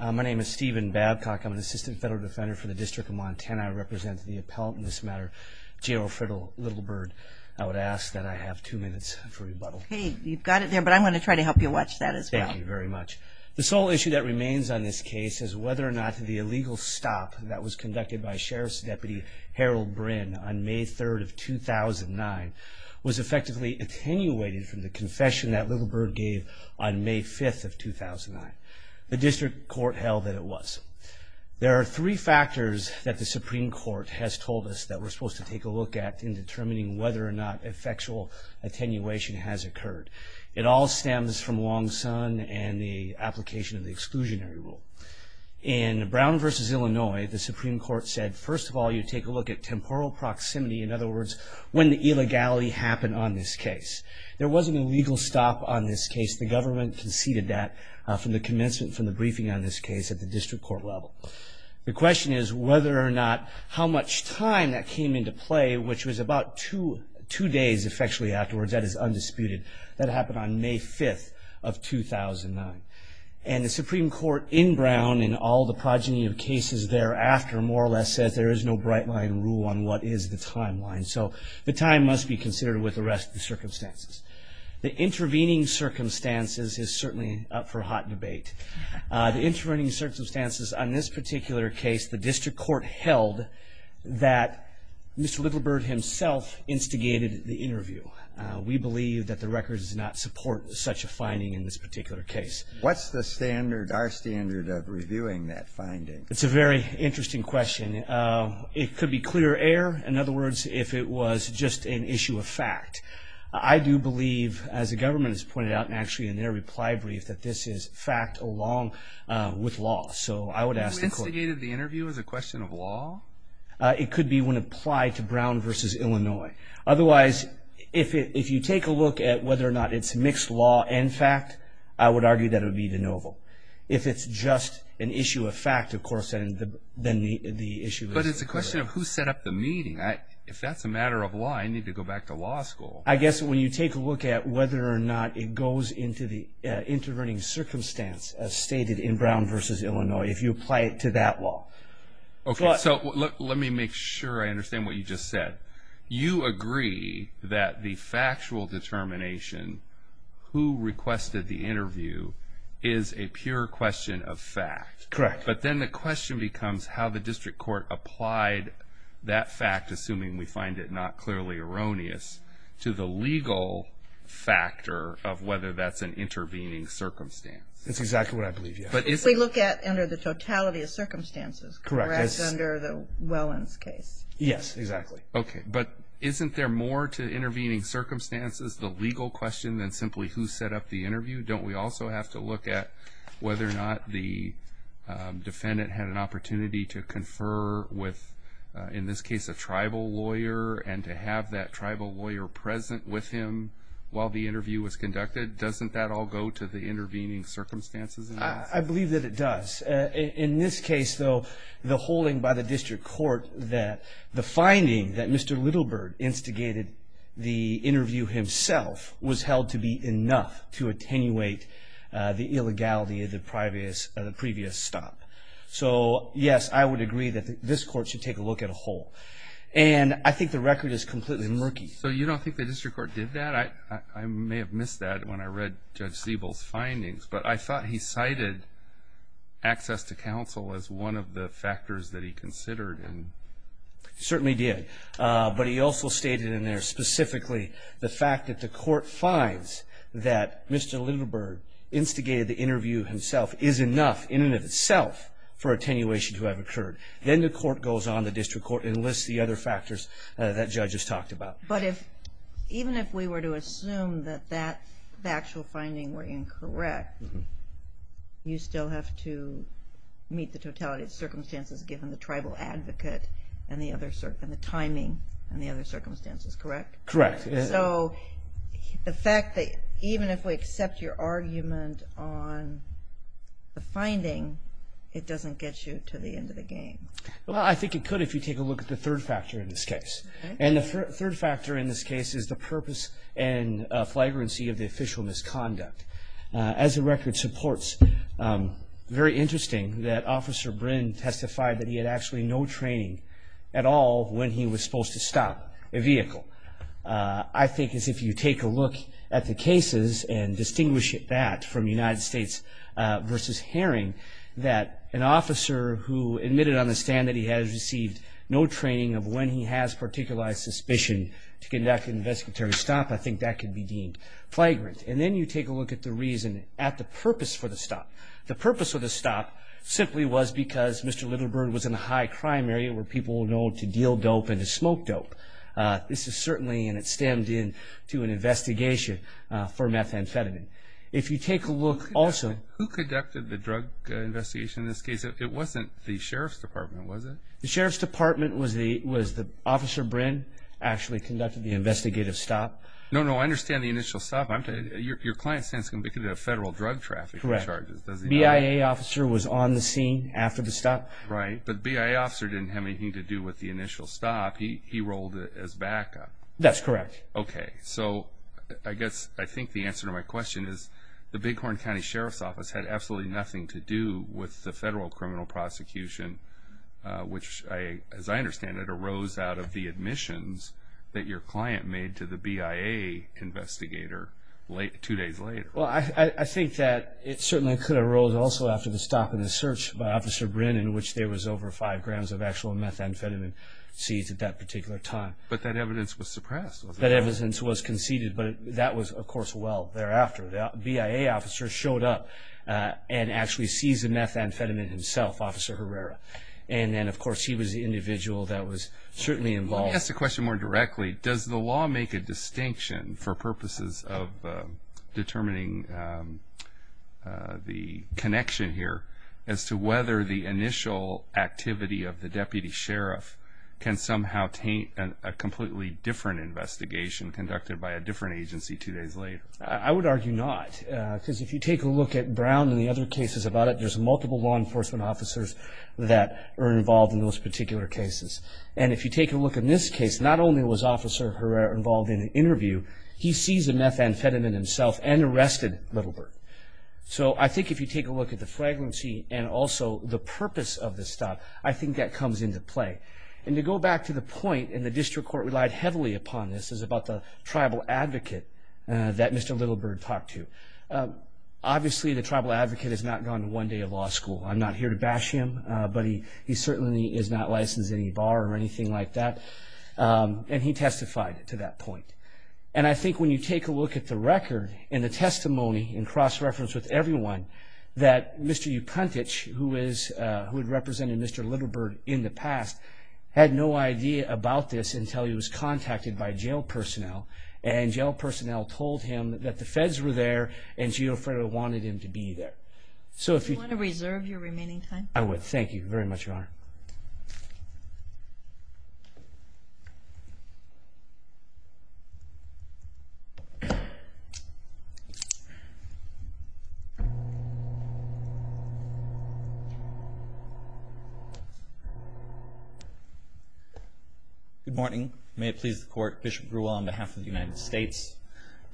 My name is Stephen Babcock. I'm an assistant federal defender for the District of Montana. I represent the appellant in this matter, Geofredo Littlebird. I would ask that I have two minutes for rebuttal. Okay. You've got it there, but I want to try to help you watch that as well. Thank you very much. The sole issue that remains on this case is whether or not the illegal stop that was conducted by Sheriff's Deputy Harold Brin on May 3rd of 2009 was effectively attenuated from the confession that Littlebird gave on May 5th of 2009. The district court held that it was. There are three factors that the Supreme Court has told us that we're supposed to take a look at in determining whether or not effectual attenuation has occurred. It all stems from Long Son and the application of the exclusionary rule. In Brown v. Illinois, the Supreme Court said, first of all, you take a look at temporal proximity, in other words, when the illegality happened on this case. There was an illegal stop on this case. The government conceded that from the commencement, from the briefing on this case at the district court level. The question is whether or not how much time that came into play, which was about two days, effectually, afterwards. That is undisputed. That happened on May 5th of 2009. And the Supreme Court in Brown, in all the progeny of cases thereafter, more or less says there is no bright-line rule on what is the timeline, so the time must be considered with the rest of the circumstances. The intervening circumstances is certainly up for hot debate. The intervening circumstances on this particular case, the district court held that Mr. Little Bird himself instigated the interview. We believe that the records do not support such a finding in this particular case. What's the standard, our standard, of reviewing that finding? It's a very interesting question. It could be clear air, in other words, if it was just an issue of fact. I do believe, as the government has pointed out actually in their reply brief, that this is fact along with law. So I would ask the court. You instigated the interview as a question of law? It could be when applied to Brown versus Illinois. Otherwise, if you take a look at whether or not it's mixed law and fact, I would argue that it would be de novo. If it's just an issue of fact, of course, then the issue is clear. But it's a question of who set up the meeting. If that's a matter of law, I need to go back to law school. I guess when you take a look at whether or not it goes into the intervening circumstance as stated in Brown versus Illinois, if you apply it to that law. Okay, so let me make sure I understand what you just said. You agree that the factual determination, who requested the interview, is a pure question of fact. Correct. But then the question becomes how the district court applied that fact, assuming we find it not clearly erroneous, to the legal factor of whether that's an intervening circumstance. That's exactly what I believe, yes. We look at under the totality of circumstances, correct, under the Wellins case. Yes, exactly. Okay, but isn't there more to intervening circumstances, the legal question than simply who set up the interview? Don't we also have to look at whether or not the defendant had an opportunity to confer with, in this case, a tribal lawyer, and to have that tribal lawyer present with him while the interview was conducted? Doesn't that all go to the intervening circumstances? I believe that it does. In this case, though, the holding by the district court that the finding that Mr. Littlebird instigated the interview himself was held to be enough to attenuate the illegality of the previous stop. So, yes, I would agree that this court should take a look at a whole. And I think the record is completely murky. So you don't think the district court did that? I may have missed that when I read Judge Siebel's findings, but I thought he cited access to counsel as one of the factors that he considered. He certainly did. But he also stated in there specifically the fact that the court finds that Mr. Littlebird instigated the interview himself is enough in and of itself for attenuation to have occurred. Then the court goes on, the district court, and lists the other factors that Judge has talked about. But even if we were to assume that the actual findings were incorrect, you still have to meet the totality of circumstances given the tribal advocate and the timing and the other circumstances, correct? Correct. So the fact that even if we accept your argument on the finding, it doesn't get you to the end of the game. Well, I think it could if you take a look at the third factor in this case. And the third factor in this case is the purpose and flagrancy of the official misconduct. As the record supports, very interesting that Officer Brynn testified that he had actually no training at all when he was supposed to stop a vehicle. I think as if you take a look at the cases and distinguish that from United States v. Herring, that an officer who admitted on the stand that he has received no training of when he has particularized suspicion to conduct an investigatory stop, I think that could be deemed flagrant. And then you take a look at the reason, at the purpose for the stop. The purpose of the stop simply was because Mr. Littleburn was in a high-crime area where people were known to deal dope and to smoke dope. This is certainly, and it stemmed in to an investigation for methamphetamine. If you take a look also. Who conducted the drug investigation in this case? It wasn't the Sheriff's Department, was it? The Sheriff's Department was the Officer Brynn actually conducted the investigative stop. No, no, I understand the initial stop. Your client stands convicted of federal drug trafficking charges. Correct. BIA officer was on the scene after the stop. Right, but BIA officer didn't have anything to do with the initial stop. He rolled as backup. That's correct. Okay, so I guess I think the answer to my question is the Bighorn County Sheriff's Office had absolutely nothing to do with the federal criminal prosecution, which, as I understand it, arose out of the admissions that your client made to the BIA investigator two days later. Well, I think that it certainly could have arose also after the stop and the search by Officer Brynn in which there was over five grams of actual methamphetamine seized at that particular time. But that evidence was suppressed, wasn't it? That evidence was conceded, but that was, of course, well thereafter. BIA officer showed up and actually seized the methamphetamine himself, Officer Herrera. And then, of course, he was the individual that was certainly involved. Let me ask the question more directly. Does the law make a distinction for purposes of determining the connection here as to whether the initial activity of the deputy sheriff can somehow taint a completely different investigation conducted by a different agency two days later? I would argue not, because if you take a look at Brown and the other cases about it, there's multiple law enforcement officers that are involved in those particular cases. And if you take a look in this case, not only was Officer Herrera involved in the interview, he seized the methamphetamine himself and arrested Littleburg. So I think if you take a look at the fragrancy and also the purpose of this stop, I think that comes into play. And to go back to the point, and the district court relied heavily upon this, is about the tribal advocate that Mr. Littleburg talked to. Obviously, the tribal advocate has not gone to one day of law school. I'm not here to bash him, but he certainly is not licensed in any bar or anything like that. And he testified to that point. And I think when you take a look at the record and the testimony in cross-reference with everyone that Mr. Upuntich, who had represented Mr. Littleburg in the past, had no idea about this until he was contacted by jail personnel. And jail personnel told him that the feds were there and GEOFED wanted him to be there. Do you want to reserve your remaining time? I would. Thank you very much, Your Honor. Good morning. May it please the court. Bishop Grewell on behalf of the United States.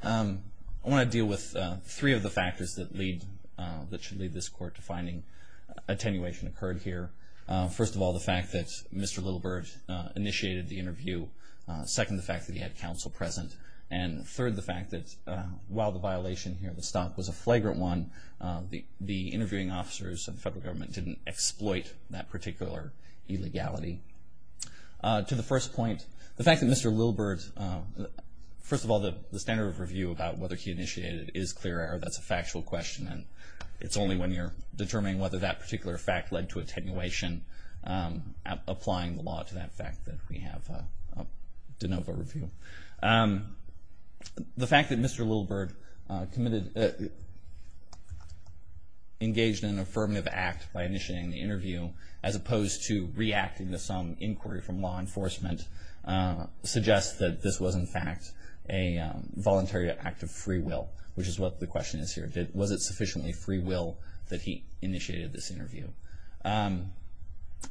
I want to deal with three of the factors that should lead this court to finding attenuation occurred here. First of all, the fact that Mr. Littleburg initiated the interview. Second, the fact that he had counsel present. And third, the fact that while the violation here, the stop, was a flagrant one, the interviewing officers of the federal government didn't exploit that particular illegality. To the first point, the fact that Mr. Littleburg, first of all the standard of review about whether he initiated it is clear. That's a factual question and it's only when you're determining whether that particular fact led to attenuation applying the law to that fact that we have a de novo review. The fact that Mr. Littleburg engaged in an affirmative act by initiating the interview as opposed to reacting to some inquiry from law enforcement suggests that this was in fact a voluntary act of free will, which is what the question is here. Was it sufficiently free will that he initiated this interview?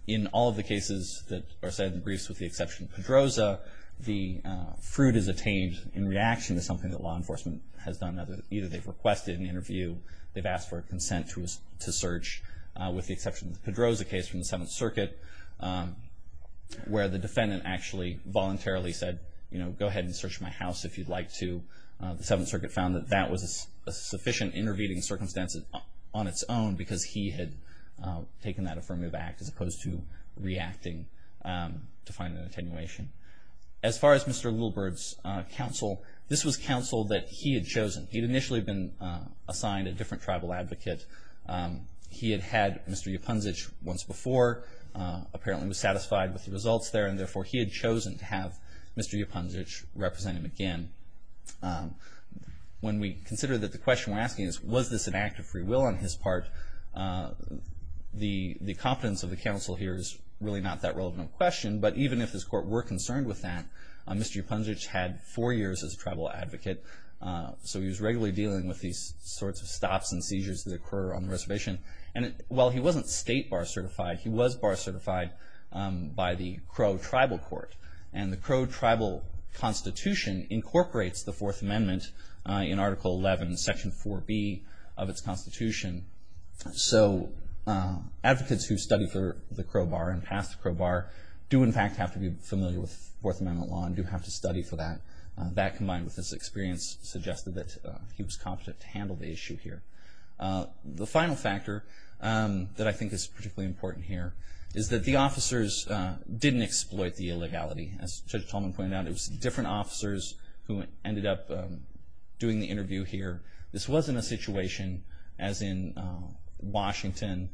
In all of the cases that are cited in the briefs with the exception of Pedroza, the fruit is attained in reaction to something that law enforcement has done. Either they've requested an interview, they've asked for a consent to search, with the exception of the Pedroza case from the Seventh Circuit, where the defendant actually voluntarily said, you know, go ahead and search my house if you'd like to. The Seventh Circuit found that that was a sufficient intervening circumstance on its own because he had taken that affirmative act as opposed to reacting to find an attenuation. As far as Mr. Littleburg's counsel, this was counsel that he had chosen. He'd initially been assigned a different tribal advocate. He had had Mr. Yupunzich once before, apparently was satisfied with the results there, and therefore he had chosen to have Mr. Yupunzich represent him again. When we consider that the question we're asking is, was this an act of free will on his part, the competence of the counsel here is really not that relevant of a question, but even if his court were concerned with that, Mr. Yupunzich had four years as a tribal advocate, so he was regularly dealing with these sorts of stops and seizures that occur on the reservation. And while he wasn't state bar certified, he was bar certified by the Crow Tribal Court. And the Crow Tribal Constitution incorporates the Fourth Amendment in Article 11, Section 4B of its Constitution. So advocates who study for the Crow Bar and pass the Crow Bar do in fact have to be familiar with Fourth Amendment law and do have to study for that. That, combined with his experience, suggested that he was competent to handle the issue here. The final factor that I think is particularly important here is that the officers didn't exploit the illegality. As Judge Tolman pointed out, it was different officers who ended up doing the interview here. This wasn't a situation as in Washington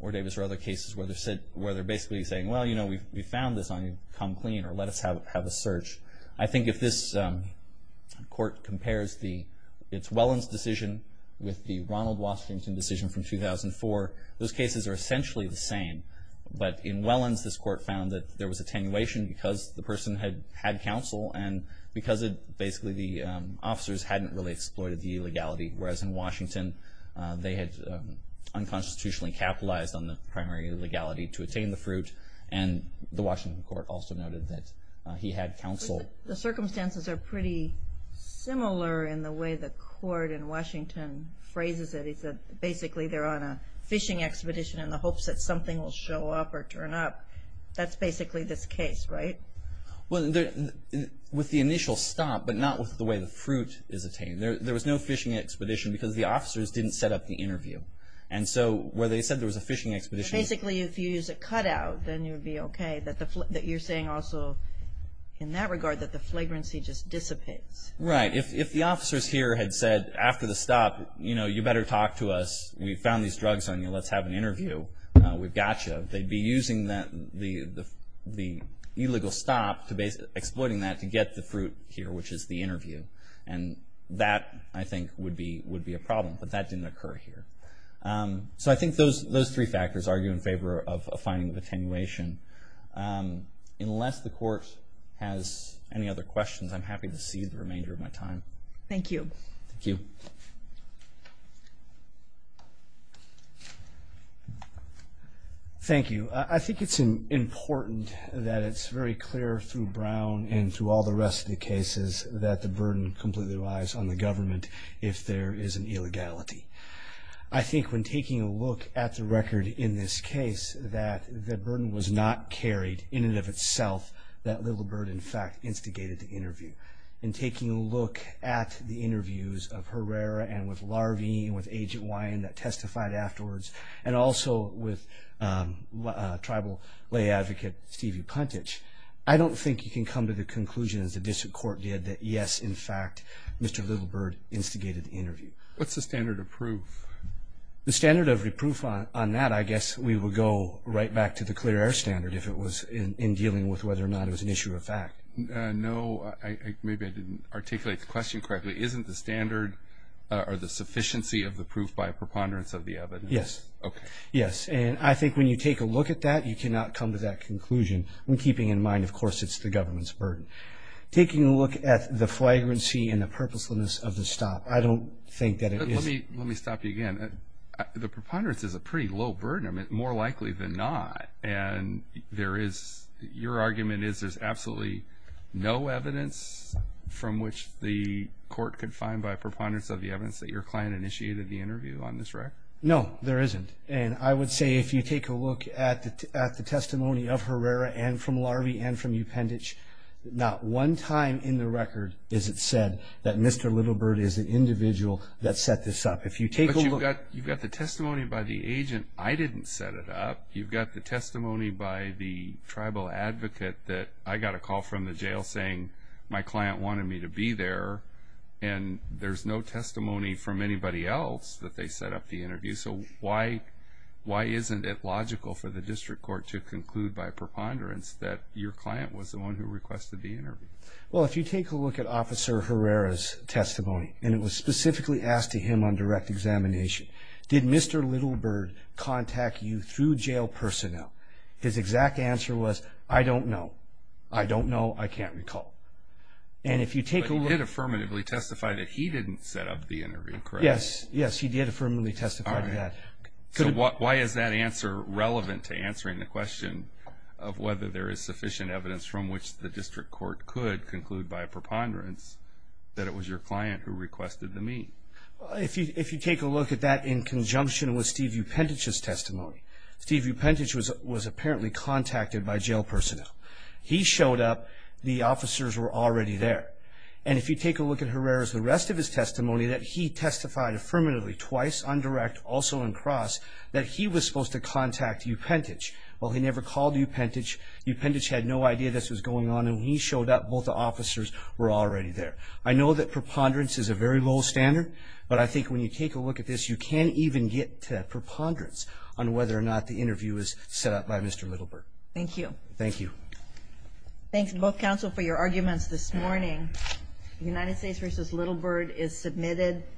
or Davis or other cases where they're basically saying, well, you know, we found this on you, come clean or let us have a search. I think if this court compares its Wellens decision with the Ronald Washington decision from 2004, those cases are essentially the same. But in Wellens, this court found that there was attenuation because the person had had counsel and because basically the officers hadn't really exploited the illegality. Whereas in Washington, they had unconstitutionally capitalized on the primary legality to attain the fruit. And the Washington court also noted that he had counsel. The circumstances are pretty similar in the way the court in Washington phrases it. It's basically they're on a fishing expedition in the hopes that something will show up or turn up. That's basically this case, right? Well, with the initial stop, but not with the way the fruit is attained. There was no fishing expedition because the officers didn't set up the interview. And so where they said there was a fishing expedition So basically if you use a cut out, then you'd be okay. That you're saying also in that regard that the flagrancy just dissipates. Right. If the officers here had said after the stop, you know, you better talk to us. We found these drugs on you. Let's have an interview. We've got you. They'd be using the illegal stop, exploiting that to get the fruit here, which is the interview. And that, I think, would be a problem. But that didn't occur here. So I think those three factors argue in favor of a finding of attenuation. Unless the court has any other questions, I'm happy to cede the remainder of my time. Thank you. Thank you. Thank you. I think it's important that it's very clear through Brown and through all the rest of the cases that the burden completely relies on the government if there is an illegality. I think when taking a look at the record in this case, that the burden was not carried in and of itself. That little burden, in fact, instigated the interview. In taking a look at the interviews of Herrera and with Larvie and with Agent Wyan that testified afterwards, and also with Tribal Lay Advocate Stevie Puntich, I don't think you can come to the conclusion, as the district court did, that, yes, in fact, Mr. Little Bird instigated the interview. What's the standard of proof? The standard of reproof on that, I guess, we would go right back to the clear air standard if it was in dealing with whether or not it was an issue of fact. No, maybe I didn't articulate the question correctly. Isn't the standard or the sufficiency of the proof by preponderance of the evidence? Yes. Okay. Yes, and I think when you take a look at that, you cannot come to that conclusion. When keeping in mind, of course, it's the government's burden. Taking a look at the flagrancy and the purposelessness of the stop, I don't think that it is. Let me stop you again. The preponderance is a pretty low burden, more likely than not, and your argument is there's absolutely no evidence from which the court could find by preponderance of the evidence that your client initiated the interview on this record? No, there isn't. I would say if you take a look at the testimony of Herrera and from Larvie and from Upendich, not one time in the record is it said that Mr. Littlebird is the individual that set this up. But you've got the testimony by the agent. I didn't set it up. You've got the testimony by the tribal advocate that I got a call from the jail saying, my client wanted me to be there, and there's no testimony from anybody else that they set up the interview. So why isn't it logical for the district court to conclude by preponderance that your client was the one who requested the interview? Well, if you take a look at Officer Herrera's testimony, and it was specifically asked to him on direct examination, did Mr. Littlebird contact you through jail personnel? His exact answer was, I don't know. I don't know. I can't recall. But he did affirmatively testify that he didn't set up the interview, correct? Yes, yes, he did affirmatively testify to that. So why is that answer relevant to answering the question of whether there is sufficient evidence from which the district court could conclude by preponderance that it was your client who requested the meet? If you take a look at that in conjunction with Steve Upendich's testimony, Steve Upendich was apparently contacted by jail personnel. He showed up. The officers were already there. And if you take a look at Herrera's, the rest of his testimony, that he testified affirmatively twice on direct, also on cross, that he was supposed to contact Upendich. Well, he never called Upendich. Upendich had no idea this was going on, and he showed up. Both the officers were already there. I know that preponderance is a very low standard, but I think when you take a look at this, you can even get to preponderance on whether or not the interview is set up by Mr. Littlebird. Thank you. Thank you. Thanks, both counsel, for your arguments this morning. United States v. Littlebird is submitted.